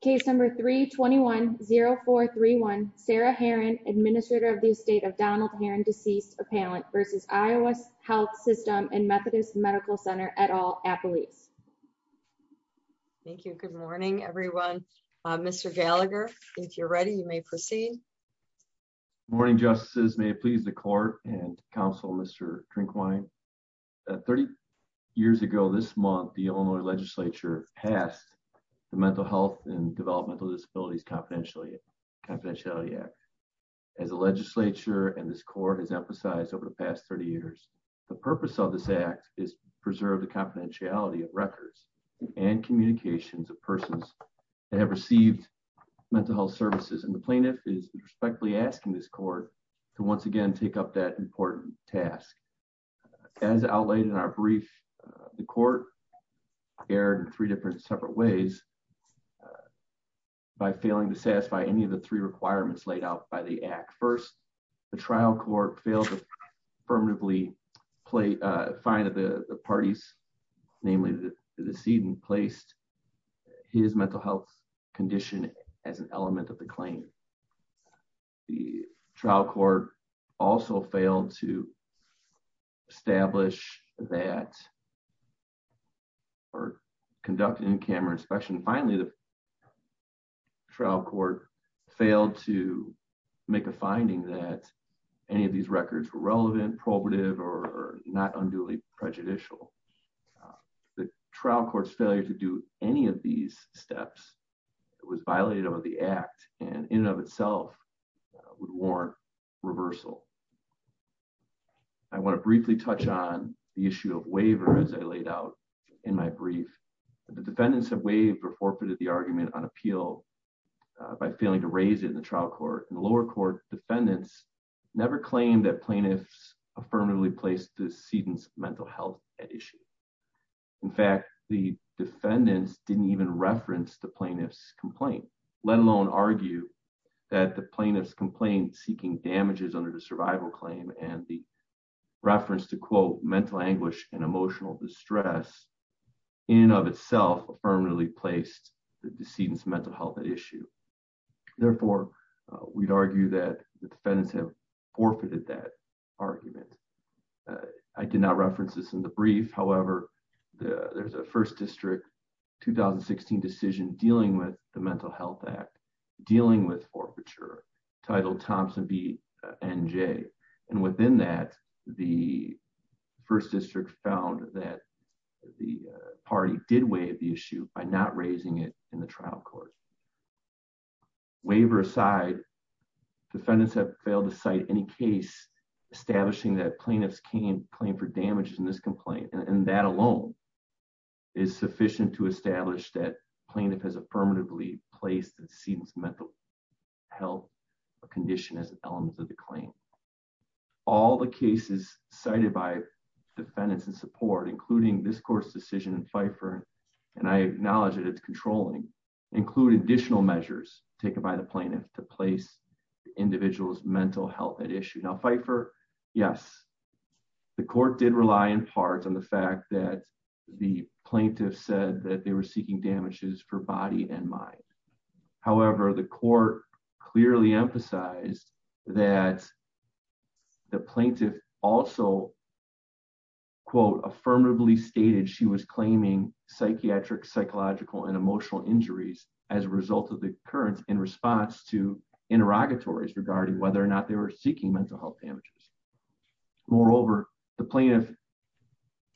Case number 321-0431, Sarah Herron, Administrator of the Estate of Donald Herron, Deceased Appellant v. Iowa Health System and Methodist Medical Center, et al., Appelese. Thank you. Good morning, everyone. Mr. Gallagher, if you're ready, you may proceed. Good morning, Justices. May it please the Court and Counsel, Mr. Drinkwine. Thirty years ago this month, the Illinois Legislature passed the Mental Health and Developmental Disabilities Confidentiality Act. As the Legislature and this Court have emphasized over the past 30 years, the purpose of this Act is to preserve the confidentiality of records and communications of persons that have received mental health services, and the Plaintiff is respectfully asking this Court to once again take up that important task. As outlaid in our brief, the Court erred in three different separate ways by failing to satisfy any of the three requirements laid out by the Act. First, the trial court failed to affirmatively find that the parties, namely the decedent, placed his mental health condition as an element of the claim. The trial court also failed to establish that or conduct in-camera inspection. Finally, the trial court failed to make a finding that any of these records were relevant, probative, or not unduly prejudicial. The trial court's failure to do any of these steps was violated over the Act, and in and of itself would warrant reversal. I want to briefly touch on the issue of waiver as I laid out in my brief. The defendants have waived or forfeited the argument on appeal by failing to raise it in the trial court, and the lower court defendants never claimed that plaintiffs affirmatively placed the decedent's mental health at issue. In fact, the defendants didn't even reference the plaintiff's argument that the plaintiff's complaint seeking damages under the survival claim and the reference to, quote, mental anguish and emotional distress in and of itself affirmatively placed the decedent's mental health at issue. Therefore, we'd argue that the defendants have forfeited that argument. I did not reference this in the brief. However, there's a First District 2016 decision dealing with the Mental Health Act dealing with forfeiture titled Thompson v. NJ, and within that, the First District found that the party did waive the issue by not raising it in the trial court. Waiver aside, defendants have failed to cite any case establishing that plaintiffs can claim for affirmatively placed the decedent's mental health condition as an element of the claim. All the cases cited by defendants in support, including this court's decision in Pfeiffer, and I acknowledge that it's controlling, include additional measures taken by the plaintiff to place the individual's mental health at issue. Now, Pfeiffer, yes, the court did rely in part on the fact that the plaintiff said that they were seeking damages for body and mind. However, the court clearly emphasized that the plaintiff also, quote, affirmatively stated she was claiming psychiatric, psychological, and emotional injuries as a result of the occurrence in response to interrogatories regarding whether or not they were seeking mental health damages. Moreover, the plaintiff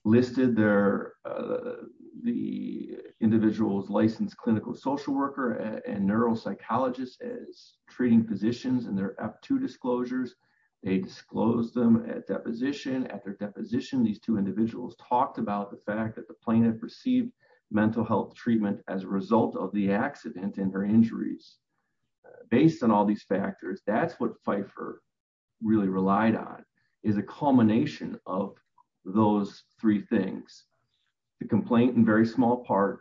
listed the individual's licensed clinical social worker and neuropsychologist as treating physicians in their up to disclosures. They disclosed them at deposition. At their deposition, these two individuals talked about the fact that the plaintiff received mental health treatment as a result of the accident and her injuries. Based on all these is a culmination of those three things, the complaint in very small part,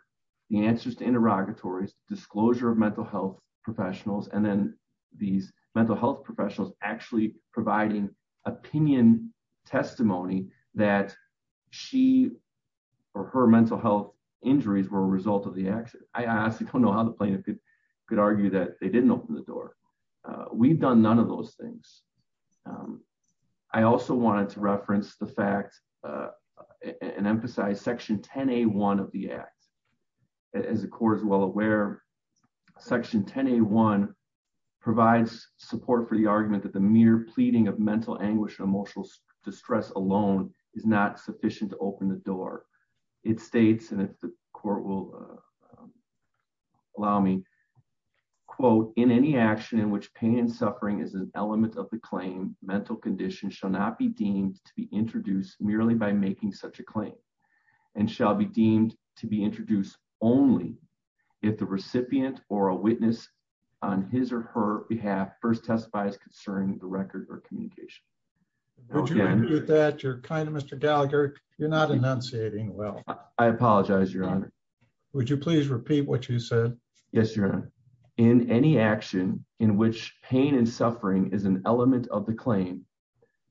the answers to interrogatories, disclosure of mental health professionals, and then these mental health professionals actually providing opinion testimony that she or her mental health injuries were a result of the accident. I honestly don't know how the plaintiff could argue that they didn't open the door. We've done none of those things. I also wanted to reference the fact and emphasize section 10A1 of the act. As the court is well aware, section 10A1 provides support for the argument that the mere pleading of mental anguish and emotional distress alone is not sufficient to open the door. It states, and if the court will allow me, quote, in any action in which pain and suffering is an element of the claim, the plaintiff shall not be deemed to be introduced merely by making such a claim and shall be deemed to be introduced only if the recipient or a witness on his or her behalf first testifies concerning the record or communication. Would you repeat that? You're kind of Mr. Gallagher. You're not enunciating well. I apologize, Your Honor. Would you please repeat what you said? Yes, Your Honor. In any action in which pain and suffering is an element of the claim,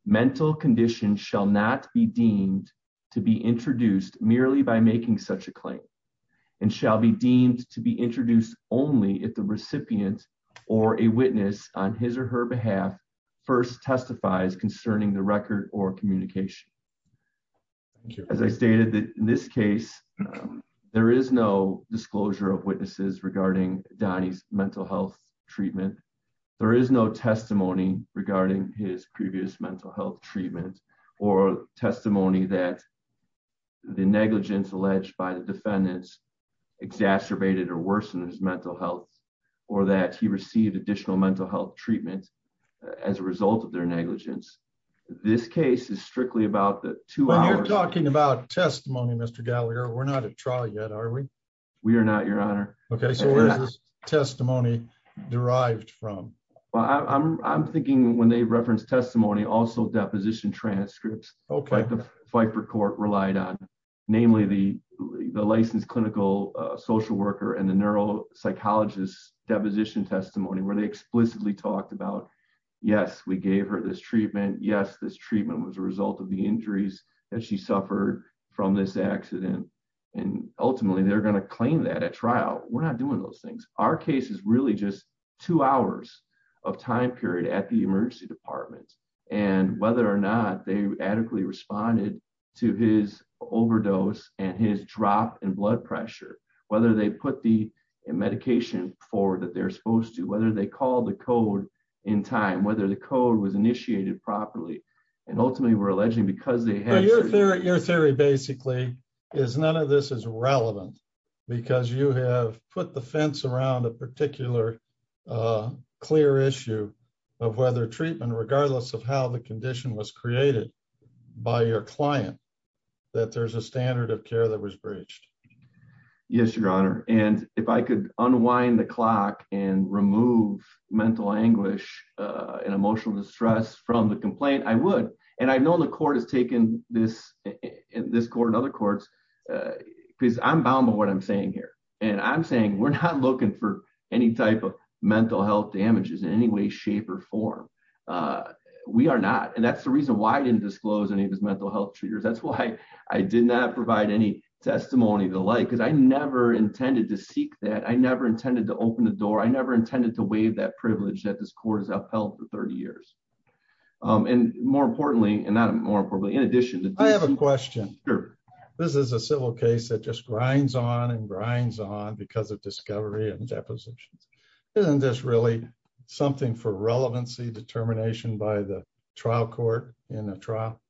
mental condition shall not be deemed to be introduced merely by making such a claim and shall be deemed to be introduced only if the recipient or a witness on his or her behalf first testifies concerning the record or communication. As I stated that in this case, there is no disclosure of witnesses regarding Donnie's mental health treatment. There is no testimony regarding his previous mental health treatment or testimony that the negligence alleged by the defendants exacerbated or worsened his mental health or that he received additional mental health treatment as a result of their negligence. This case is strictly about the two hours. When you're talking about testimony, Mr. Gallagher, we're not at trial yet, are we? We are not, Your Honor. Okay, so where is this testimony derived from? Well, I'm thinking when they reference testimony, also deposition transcripts like the Fifer Court relied on, namely the licensed clinical social worker and the neuropsychologist's deposition testimony where they explicitly talked about, yes, we gave her this treatment. Yes, this treatment was a result of the injuries that she suffered from this accident and ultimately they're going to claim that at trial. We're not doing those things. Our case is really just two hours of time period at the emergency department and whether or not they adequately responded to his overdose and his drop in blood pressure, whether they put the medication forward that they're supposed to, whether they called the code in time, whether the code was initiated properly, and ultimately we're alleging because they have... Your theory basically is none of this is relevant because you have put the fence around a particular clear issue of whether treatment, regardless of how the condition was created by your client, that there's a standard of care that was breached. Yes, Your Honor, and if I could unwind the clock and remove mental anguish and emotional distress from the complaint, I would. I know the court has taken this court and other courts because I'm bound by what I'm saying here. I'm saying we're not looking for any type of mental health damages in any way, shape or form. We are not. That's the reason why I didn't disclose any of his mental health That's why I did not provide any testimony of the like because I never intended to seek that. I never intended to open the door. I never intended to waive that privilege that this court has upheld for 30 years. And more importantly, and not more importantly, in addition to... I have a question. This is a civil case that just grinds on and grinds on because of discovery and depositions. Isn't this really something for relevancy determination by the trial court in the trial?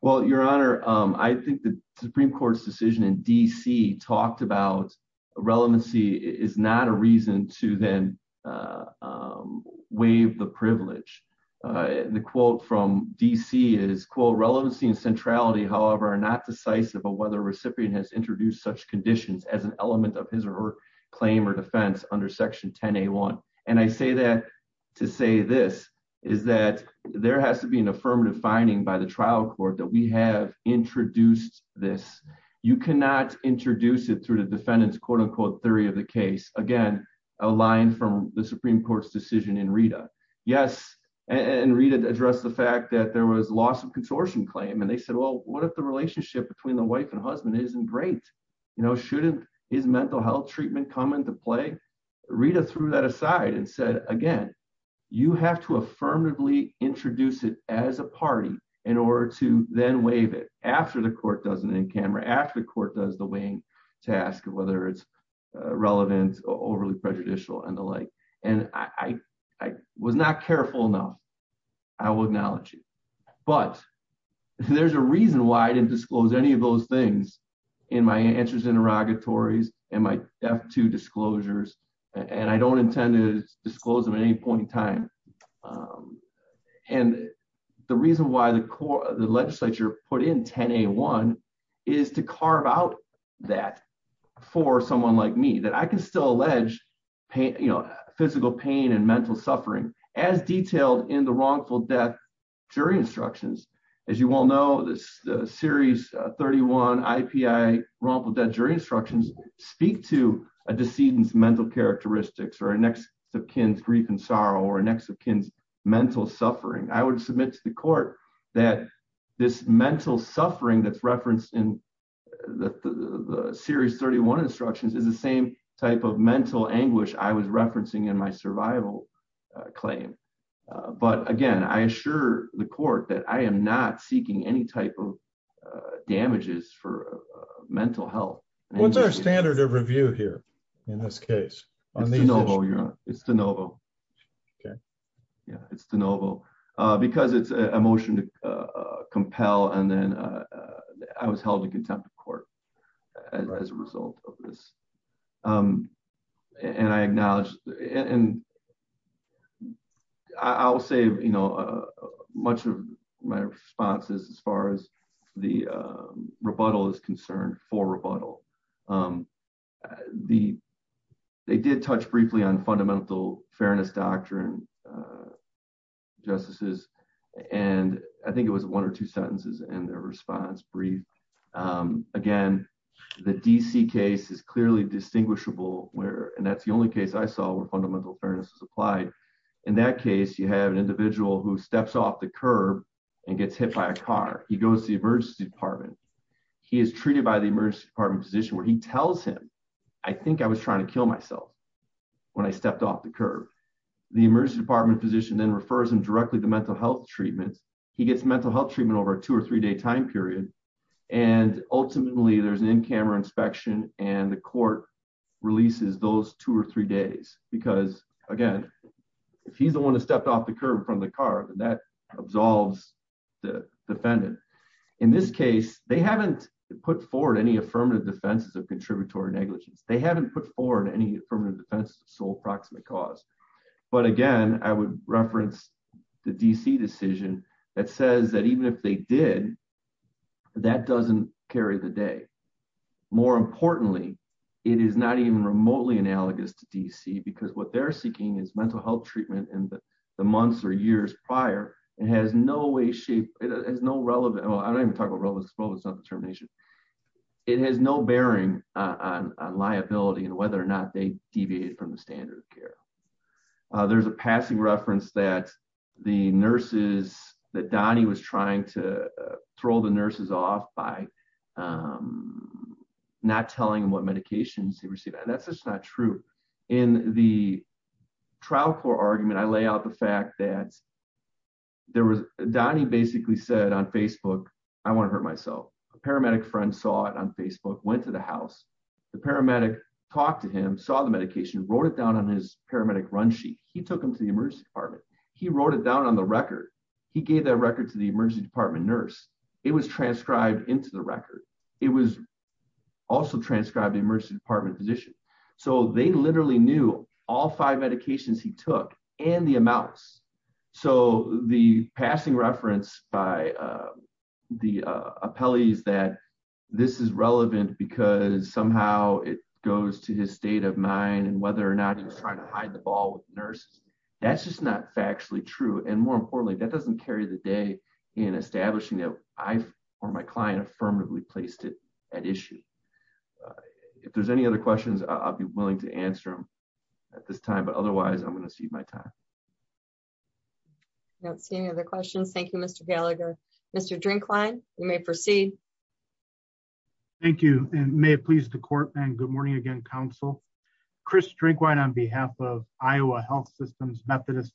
Well, Your Honor, I think the Supreme Court's decision in D.C. talked about relevancy is not a reason to then waive the privilege. The quote from D.C. is, quote, relevancy and centrality, however, are not decisive of whether a recipient has introduced such conditions as an element of his or her claim or defense under Section 10A1. And I say that to say this is that there has to be an affirmative finding by the trial court that we have introduced this. You cannot introduce it through the defendant's quote-unquote theory of the case. Again, a line from the Supreme Court's decision in Rita. Yes, and Rita addressed the fact that there was loss of consortium claim and they said, well, what if the relationship between the wife and husband isn't great? You know, shouldn't his mental health treatment come into play? Rita threw that aside and said, again, you have to affirmatively introduce it as a party in order to then waive it after the court does an in-camera, after the court does the weighing task, whether it's relevant or overly prejudicial and the like. And I was not careful enough, I will acknowledge you, but there's a reason why I didn't disclose any of those things in my answers interrogatories and my F2 disclosures and I don't intend to disclose them at any point in time. And the reason why the legislature put in 10A1 is to carve out that for someone like me, that I can still allege, you know, physical pain and mental suffering as detailed in the wrongful death jury instructions. As you all know, this annex of Kinn's grief and sorrow or annex of Kinn's mental suffering, I would submit to the court that this mental suffering that's referenced in the series 31 instructions is the same type of mental anguish I was referencing in my survival claim. But again, I assure the court that I am not seeking any type of damages for mental health. What's our standard of review here in this case? It's de novo, your honor. It's de novo. Okay. Yeah, it's de novo. Because it's a motion to compel and then I was held in contempt of court as a result of this. And I acknowledge and I'll say, you know, much of my response is as far as the rebuttal is concerned for rebuttal. The they did touch briefly on fundamental fairness doctrine justices. And I think it was one or two sentences and their response brief. Again, the DC case is clearly distinguishable where and that's the only case I saw where fundamental fairness is applied. In that case, you have an individual who steps off the curb and gets hit by a car. He goes to the emergency department. He is treated by the emergency department physician where he tells him, I think I was trying to kill myself when I stepped off the curb. The emergency department physician then refers him directly to mental health treatment. He gets mental health treatment over a two or three day time period. And ultimately, there's an in camera inspection and the court releases those two or three days because again, if he's the one who stepped off the curb from the car that absolves the defendant. In this case, they haven't put forward any affirmative defenses of contributory negligence. They haven't put forward any affirmative defense of sole proximate cause. But again, I would reference the DC decision that says that even if they did, that doesn't carry the day. More importantly, it is not even remotely analogous to DC because what they're seeking is mental treatment in the months or years prior. It has no bearing on liability and whether or not they deviate from the standard of care. There's a passing reference that the nurses, that Donnie was trying to throw the nurses off by not telling them what medications they received. That's just true. In the trial court argument, I lay out the fact that Donnie basically said on Facebook, I want to hurt myself. A paramedic friend saw it on Facebook, went to the house. The paramedic talked to him, saw the medication, wrote it down on his paramedic run sheet. He took him to the emergency department. He wrote it down on the record. He gave that record to the emergency department nurse. It was transcribed into the record. It was also transcribed to emergency physician. They literally knew all five medications he took and the amounts. The passing reference by the appellees that this is relevant because somehow it goes to his state of mind and whether or not he was trying to hide the ball with the nurses, that's just not factually true. More importantly, that doesn't carry the day in establishing that I or my client affirmatively placed it at issue. If there's any other questions, I'll be willing to answer them at this time, but otherwise I'm going to cede my time. I don't see any other questions. Thank you, Mr. Gallagher. Mr. Drinkwine, you may proceed. Thank you and may it please the court and good morning again, counsel. Chris Drinkwine on behalf of Iowa Health Systems Methodist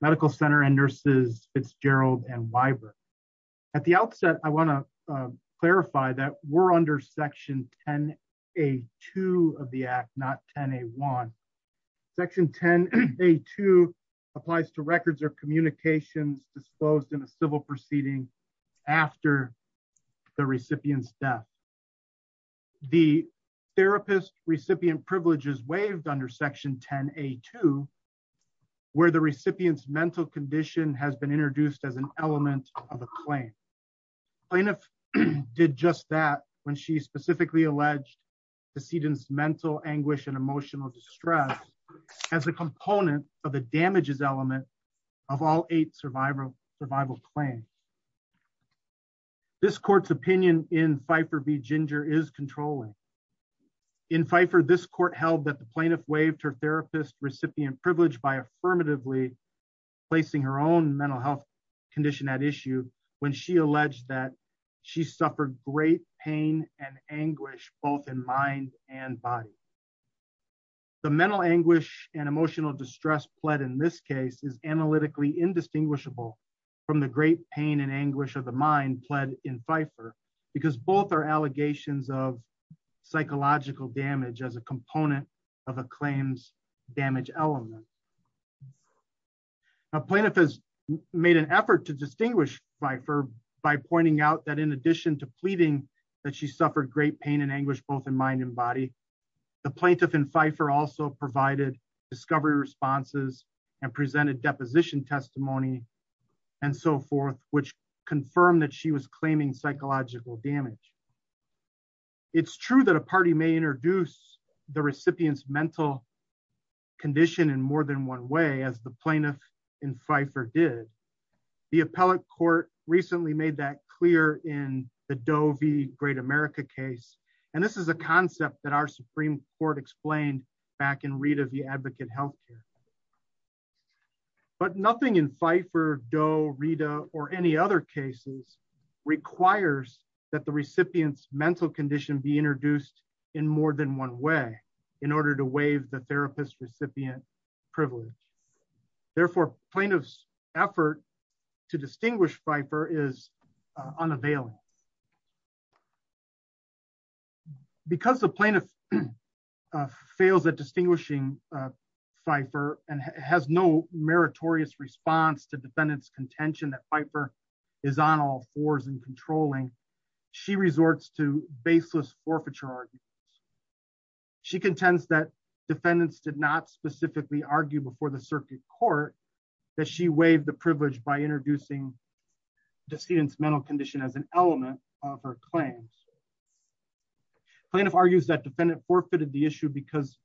Medical Center and nurses Fitzgerald and Weiber. At the outset, I want to clarify that we're under section 10A2 of the act, not 10A1. Section 10A2 applies to records or communications disposed in a civil proceeding after the recipient's death. The therapist recipient privileges waived under section 10A2 where the recipient's mental condition has been introduced as an element of a claim. Plaintiff did just that when she specifically alleged the sedan's mental anguish and emotional distress as a component of the damages element of all eight survival survival claims. This court's opinion in Pfeiffer v. Ginger is controlling. In Pfeiffer, this court held that the plaintiff waived her therapist recipient privilege by affirmatively placing her own mental health condition at issue when she alleged that she suffered great pain and anguish both in mind and body. The mental anguish and emotional distress pled in this case is analytically indistinguishable from the great pain and anguish of the mind pled in Pfeiffer because both are allegations of psychological damage as a component of a claims damage element. A plaintiff has made an effort to distinguish Pfeiffer by pointing out that in addition to pleading that she suffered great pain and anguish both in mind and body, the plaintiff in Pfeiffer also provided discovery responses and presented deposition testimony and so forth which confirmed that she was claiming psychological damage. It's true that a party may introduce the recipient's mental condition in more than one way as the plaintiff in Pfeiffer did. The appellate court recently made that clear in the Doe v. Great America case and this is a concept that our Supreme Court explained back in Rita v. Advocate condition be introduced in more than one way in order to waive the therapist recipient privilege. Therefore plaintiff's effort to distinguish Pfeiffer is unavailing. Because the plaintiff fails at distinguishing Pfeiffer and has no meritorious response to baseless forfeiture arguments, she contends that defendants did not specifically argue before the circuit court that she waived the privilege by introducing decedent's mental condition as an element of her claims. Plaintiff argues that defendant forfeited the issue because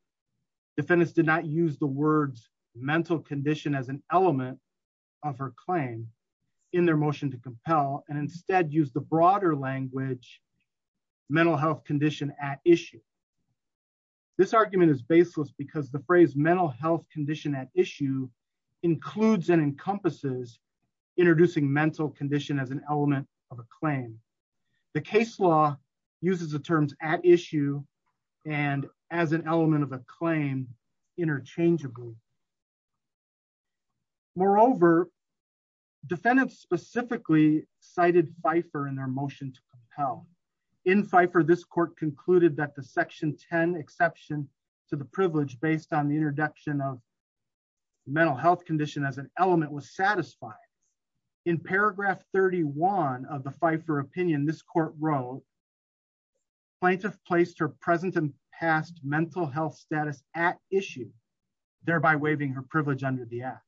defendants did not use the words mental condition as an element of her claim in their motion to compel and instead use the broader language mental health condition at issue. This argument is baseless because the phrase mental health condition at issue includes and encompasses introducing mental condition as an element of a claim. The case law uses the terms at issue and as an element of a claim. In Pfeiffer this court concluded that the section 10 exception to the privilege based on the introduction of mental health condition as an element was satisfying. In paragraph 31 of the Pfeiffer opinion this court wrote plaintiff placed her present and past mental health status at issue thereby waiving her privilege under the act.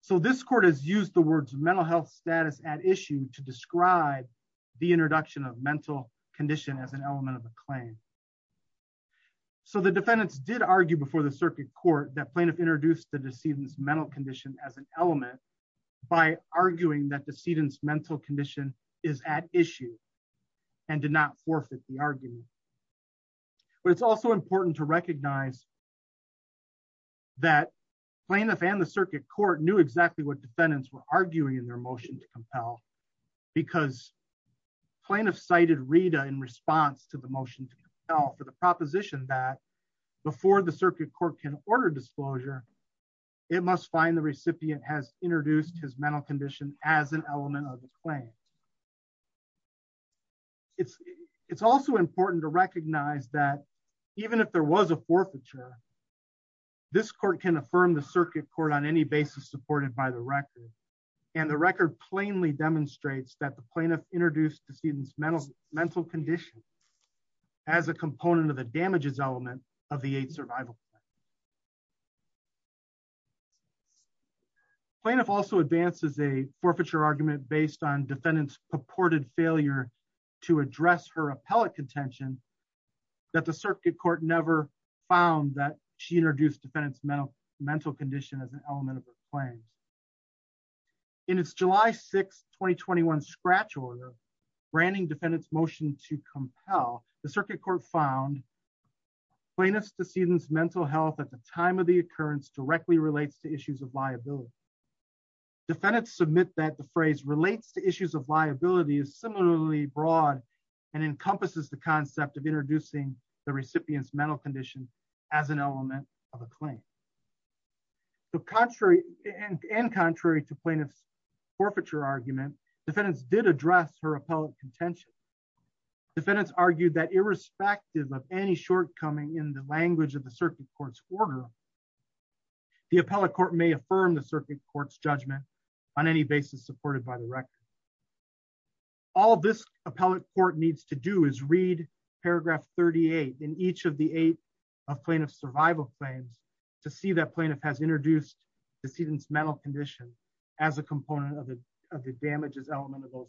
So this court has used the words mental health status at issue to describe the introduction of mental condition as an element of a claim. So the defendants did argue before the circuit court that plaintiff introduced the decedent's mental condition as an element by arguing that decedent's mental condition is at issue and did not forfeit the argument. But it's also important to recognize that plaintiff and the circuit court knew exactly what defendants were arguing in their motion to compel because plaintiff cited Rita in response to the motion to compel for the proposition that before the circuit court can order disclosure it must find the recipient has introduced his mental condition as an element of the claim. It's also important to recognize that even if there was a forfeiture this court can affirm the circuit court on any basis supported by the record and the record plainly demonstrates that the plaintiff introduced decedent's mental condition as a component of the damages element of the aid survival. Plaintiff also advances a forfeiture argument based on defendants purported failure to address her appellate contention that the circuit court never found that she introduced mental condition as an element of her claims. In its July 6, 2021 scratch order branding defendants motion to compel the circuit court found plaintiff's decedent's mental health at the time of the occurrence directly relates to issues of liability. Defendants submit that the phrase relates to issues of liability is similarly broad and encompasses the concept of introducing the recipient's mental condition as an element of a claim. So contrary and contrary to plaintiff's forfeiture argument defendants did address her appellate contention. Defendants argued that irrespective of any shortcoming in the language of the circuit court's order the appellate court may affirm the circuit court's judgment on any basis supported by the record. All this appellate court needs to do is read paragraph 38 in each of the eight of plaintiff's survival claims to see that plaintiff has introduced decedent's mental condition as a component of the damages element of those.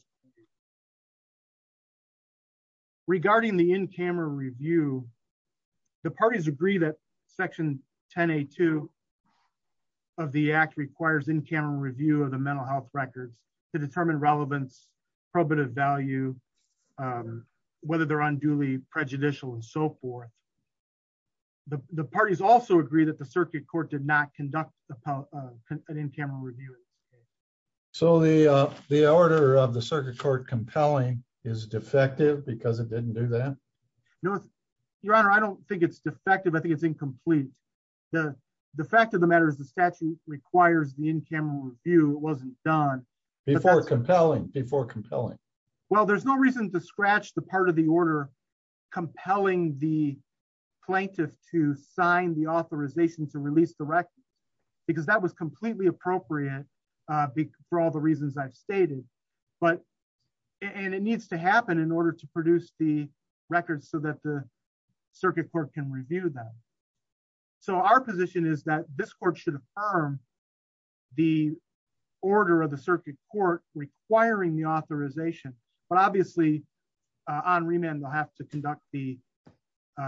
Regarding the in-camera review the parties agree that section 10A2 of the act requires in-camera review of the mental health records to determine relevance probative value whether they're unduly prejudicial and so forth. The parties also agree that the circuit court did not conduct an in-camera review. So the order of the circuit court compelling is defective because it didn't do that? No your honor I don't think it's defective I think it's incomplete. The fact of the matter is the statute requires the in-camera review it wasn't done. Before compelling before compelling. Well there's no reason to scratch the part of the order compelling the plaintiff to sign the authorization to release the record because that was completely appropriate for all the reasons I've stated but and it needs to happen in order to produce the circuit court can review them. So our position is that this court should affirm the order of the circuit court requiring the authorization but obviously on remand they'll have to conduct the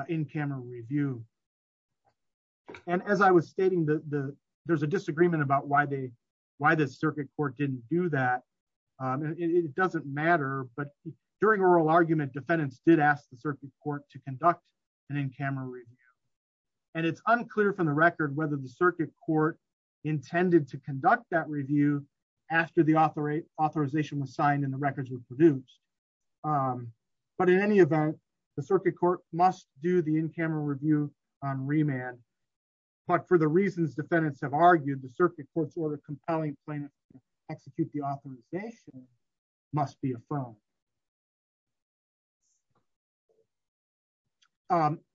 in-camera review. And as I was stating the there's a disagreement about why they why the circuit court didn't do that. It doesn't matter but during oral argument defendants did ask the circuit court to conduct an in-camera review. And it's unclear from the record whether the circuit court intended to conduct that review after the author authorization was signed and the records were produced. But in any event the circuit court must do the in-camera review on remand but for the reasons defendants have argued the circuit court's order compelling plaintiff to execute the record.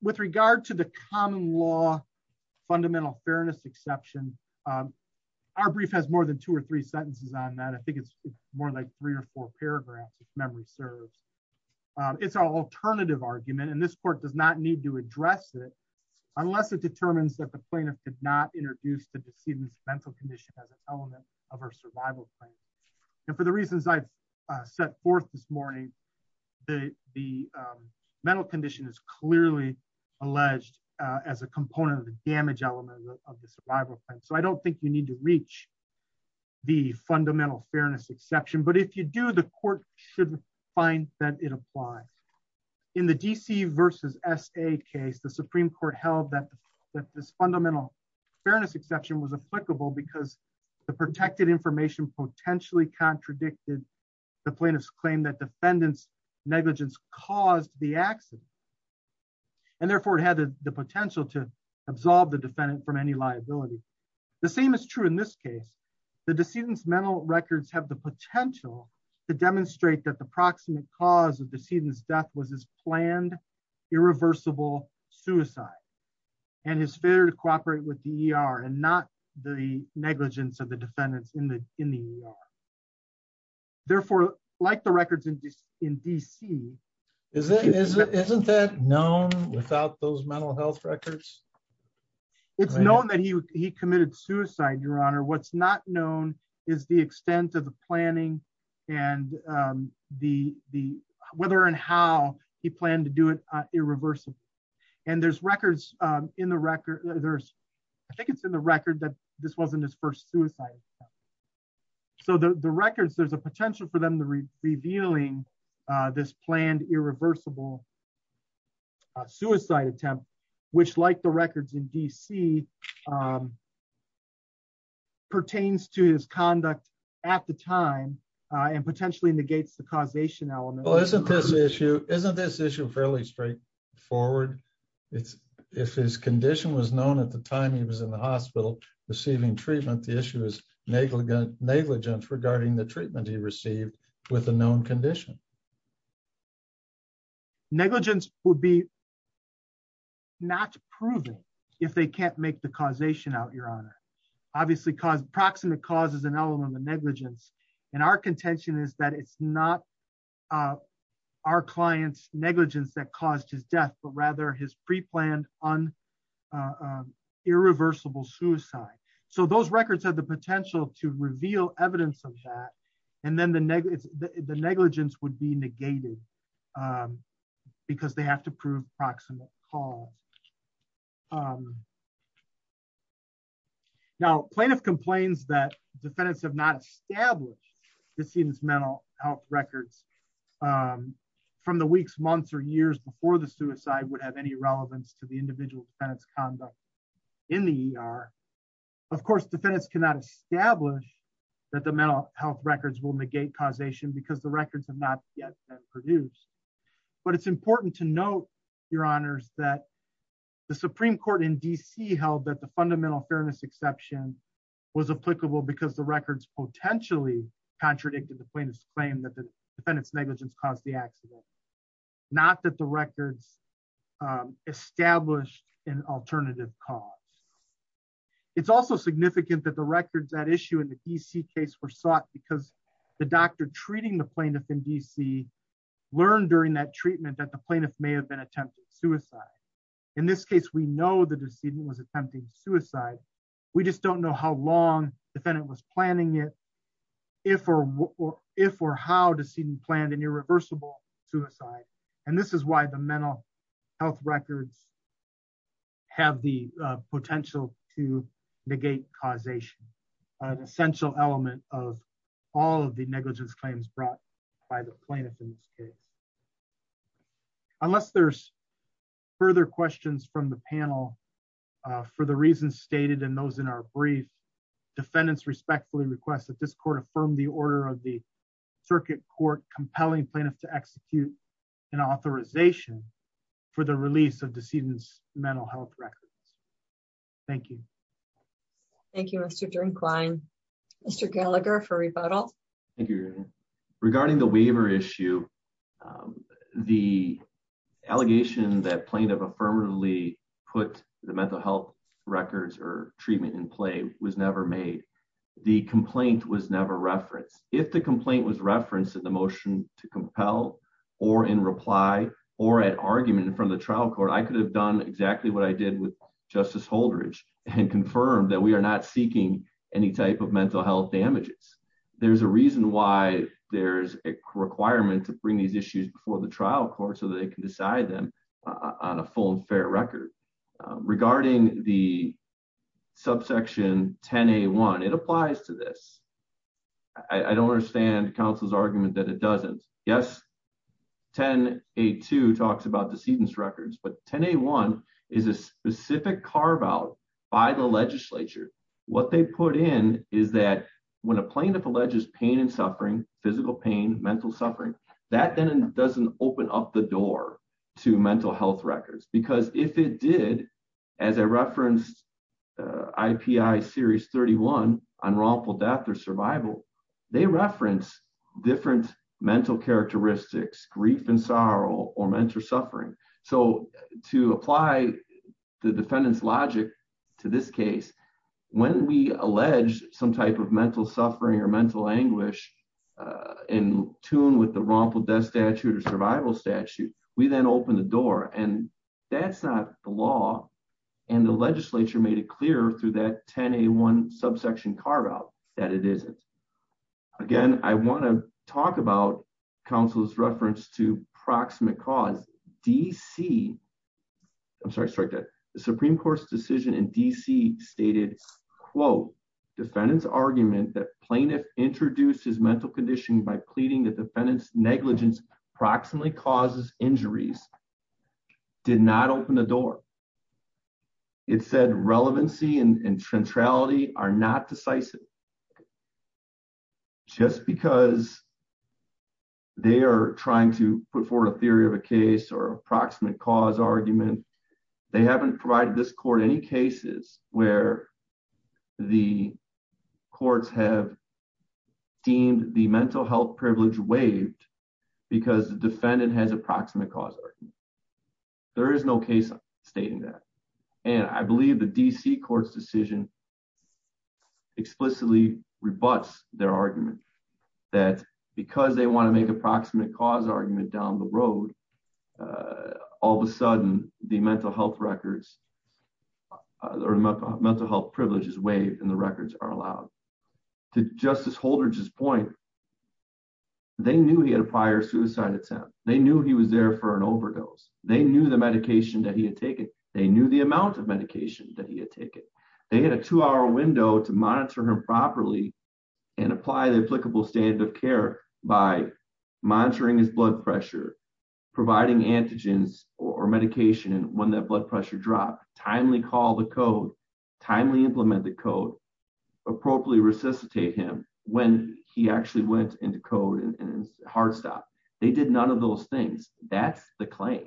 With regard to the common law fundamental fairness exception our brief has more than two or three sentences on that. I think it's more like three or four paragraphs if memory serves. It's an alternative argument and this court does not need to address it unless it determines that the plaintiff could not introduce the decedent's mental condition as an element of her survival plan. And for the reasons I've set forth this morning the the mental condition is clearly alleged as a component of the damage element of the survival plan. So I don't think you need to reach the fundamental fairness exception but if you do the court should find that it applies. In the DC versus SA case the Supreme Court held that that this fundamental fairness exception was applicable because the protected information potentially contradicted the plaintiff's claim that defendant's negligence caused the accident and therefore it had the potential to absolve the defendant from any liability. The same is true in this case the decedent's mental records have the potential to demonstrate that the proximate cause of the decedent's death was his the negligence of the defendants in the ER. Therefore like the records in DC. Isn't that known without those mental health records? It's known that he committed suicide your honor. What's not known is the extent of the planning and the whether and how he planned to do it irreversibly. And there's records in the record there's I think it's in the record that this wasn't his first suicide. So the records there's a potential for them to be revealing this planned irreversible suicide attempt which like the records in DC pertains to his conduct at the time and potentially negates the causation element. Isn't this issue fairly straightforward? If his condition was known at the time he was in the hospital receiving treatment the issue is negligence regarding the treatment he received with a known condition. Negligence would be not proven if they can't make the causation out your honor. Obviously cause proximate cause is an element of negligence and our contention is that it's not our clients negligence that caused his death but rather his pre-planned irreversible suicide. So those records have the potential to reveal evidence of that. And then the negligence would be negated because they have to prove proximate cause. Now plaintiff complains that defendants have not established the semen's mental health records from the weeks, months, or years before the suicide would have any relevance to the individual defendant's conduct in the ER. Of course defendants cannot establish that the mental health records will negate causation because the records have not yet been produced. But it's important to note your honors that the Supreme Court in DC held that the fundamental fairness exception was applicable because the records potentially contradicted the plaintiff's claim that the defendant's negligence caused the accident. Not that the records established an alternative cause. It's also significant that the records that issue in the DC case were sought because the doctor treating the plaintiff in DC learned during that treatment that the plaintiff may have been attempting suicide. In this case we know the decedent was attempting suicide we just don't know how long defendant was planning it, if or how decedent planned an irreversible suicide. And this is why the mental health records have the potential to negate causation, an essential element of all of the negligence claims brought by the plaintiff in this case. Unless there's request that this court affirm the order of the circuit court compelling plaintiff to execute an authorization for the release of decedent's mental health records. Thank you. Thank you Mr. Drinkwine. Mr. Gallagher for rebuttal. Thank you. Regarding the waiver issue the allegation that plaintiff affirmatively put the mental health records or treatment in play was never made. The complaint was never referenced. If the complaint was referenced in the motion to compel or in reply or at argument from the trial court I could have done exactly what I did with Justice Holdridge and confirmed that we are not seeking any type of mental health damages. There's a reason why there's a requirement to bring these issues before the trial court so they can decide on a full and fair record. Regarding the subsection 10A1 it applies to this. I don't understand counsel's argument that it doesn't. Yes 10A2 talks about decedent's records but 10A1 is a specific carve out by the legislature. What they put in is that when a plaintiff alleges pain suffering physical pain mental suffering that then doesn't open up the door to mental health records because if it did as I referenced IPI series 31 unlawful death or survival they reference different mental characteristics grief and sorrow or mental suffering. So to apply the defendant's in tune with the wrongful death statute or survival statute we then open the door and that's not the law and the legislature made it clear through that 10A1 subsection carve out that it isn't. Again I want to talk about counsel's reference to proximate cause. DC I'm sorry strike that the Supreme Court's decision in DC stated quote defendant's argument that plaintiff introduced his mental condition by pleading the defendant's negligence approximately causes injuries did not open the door. It said relevancy and centrality are not decisive. Just because they are trying to put forward a theory of a case or approximate cause argument they haven't provided this court any cases where the courts have deemed the mental health privilege waived because the defendant has approximate cause argument. There is no case stating that and I believe the DC court's decision explicitly rebuts their argument that because they want to make approximate cause argument down the road all of a sudden the mental health records or mental health privileges waived and the records are allowed. To Justice Holdridge's point they knew he had a prior suicide attempt. They knew he was there for an overdose. They knew the medication that he had taken. They knew the amount of medication that he had taken. They had a two-hour window to monitor him properly and apply the applicable standard of care by monitoring his blood pressure, providing antigens or medication when that blood pressure dropped, timely call the code, timely implement the code, appropriately resuscitate him when he actually went into code and his heart stopped. They did none of those things. That's the claim.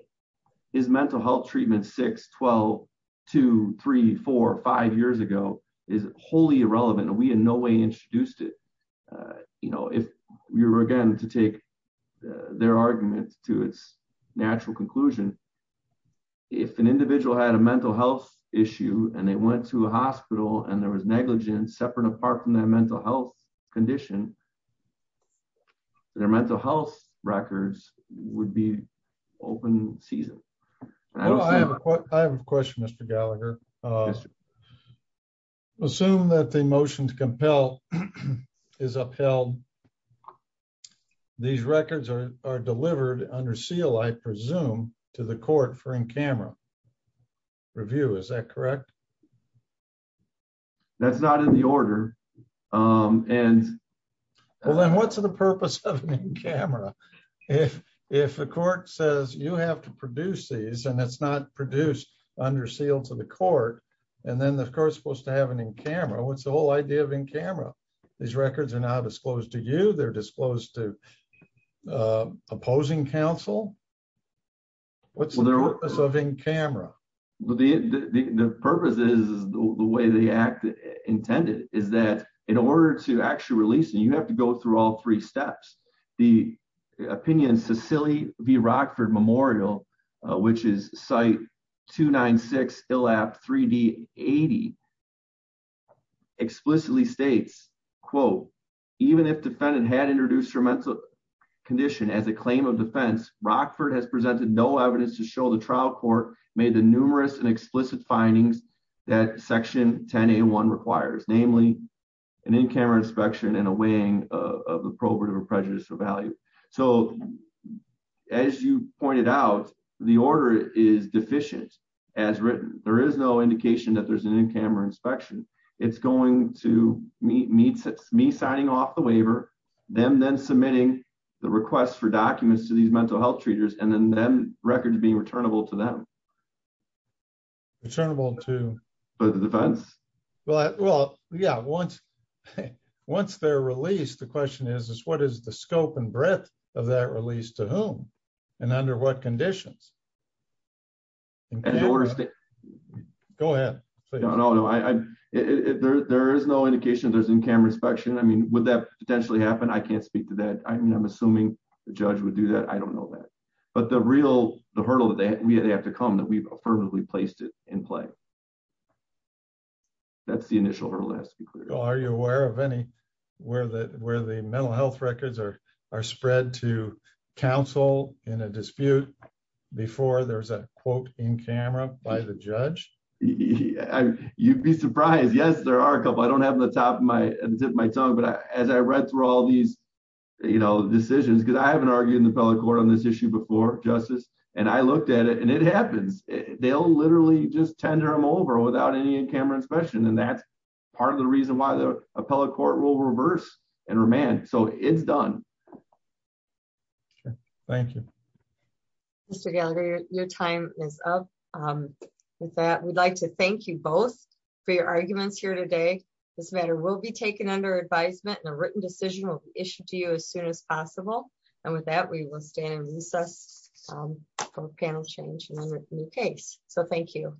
His mental health 12, 2, 3, 4, 5 years ago is wholly irrelevant and we in no way introduced it. If we were again to take their argument to its natural conclusion, if an individual had a mental health issue and they went to a hospital and there was negligence separate apart from their mental health condition, their mental health records would be open season. I have a question, Mr. Gallagher. Assume that the motion to compel is upheld. These records are delivered under seal, I presume, to the court for in camera review. Is that correct? That's not in the order. Well, then what's the purpose of an in camera? If the court says you have to produce these and it's not produced under seal to the court and then the court is supposed to have an in camera, what's the whole idea of in camera? These records are not disclosed to you. They're disclosed to opposing counsel. What's the purpose of in camera? The purpose is the way the act intended is that in order to actually release it, you have to go through all three steps. The opinion Sicily v. Rockford Memorial, which is site 296, 3D80 explicitly states, even if defendant had introduced her mental condition as a claim of defense, Rockford has presented no evidence to show the trial court made the numerous and explicit findings that 10A1 requires, namely, an in camera inspection and a weighing of the prohibitive or prejudicial value. As you pointed out, the order is deficient as written. There is no indication that there's an in camera inspection. It's going to meet me signing off the waiver, them then submitting the request for documents to these mental health treaters and then records being returnable to them. Once they're released, the question is, what is the scope and breadth of that release to whom and under what conditions? There is no indication there's an in camera inspection. Would that potentially happen? I can't speak to that. I'm assuming the judge would do that. I don't know that we've placed it in play. That's the initial. Are you aware of any where the mental health records are spread to counsel in a dispute before there's a quote in camera by the judge? You'd be surprised. Yes, there are a couple. I don't have them at the tip of my tongue. As I read through all these decisions, because I haven't argued in the federal court on this issue justice, and I looked at it and it happens. They'll literally just tender them over without any in camera inspection. That's part of the reason why the appellate court will reverse and remand. It's done. Thank you. Mr. Gallagher, your time is up. With that, we'd like to thank you both for your arguments here today. This matter will be taken under advisement and a written decision will be issued to you as soon as possible. With that, we will recess for panel change in the new case. Thank you.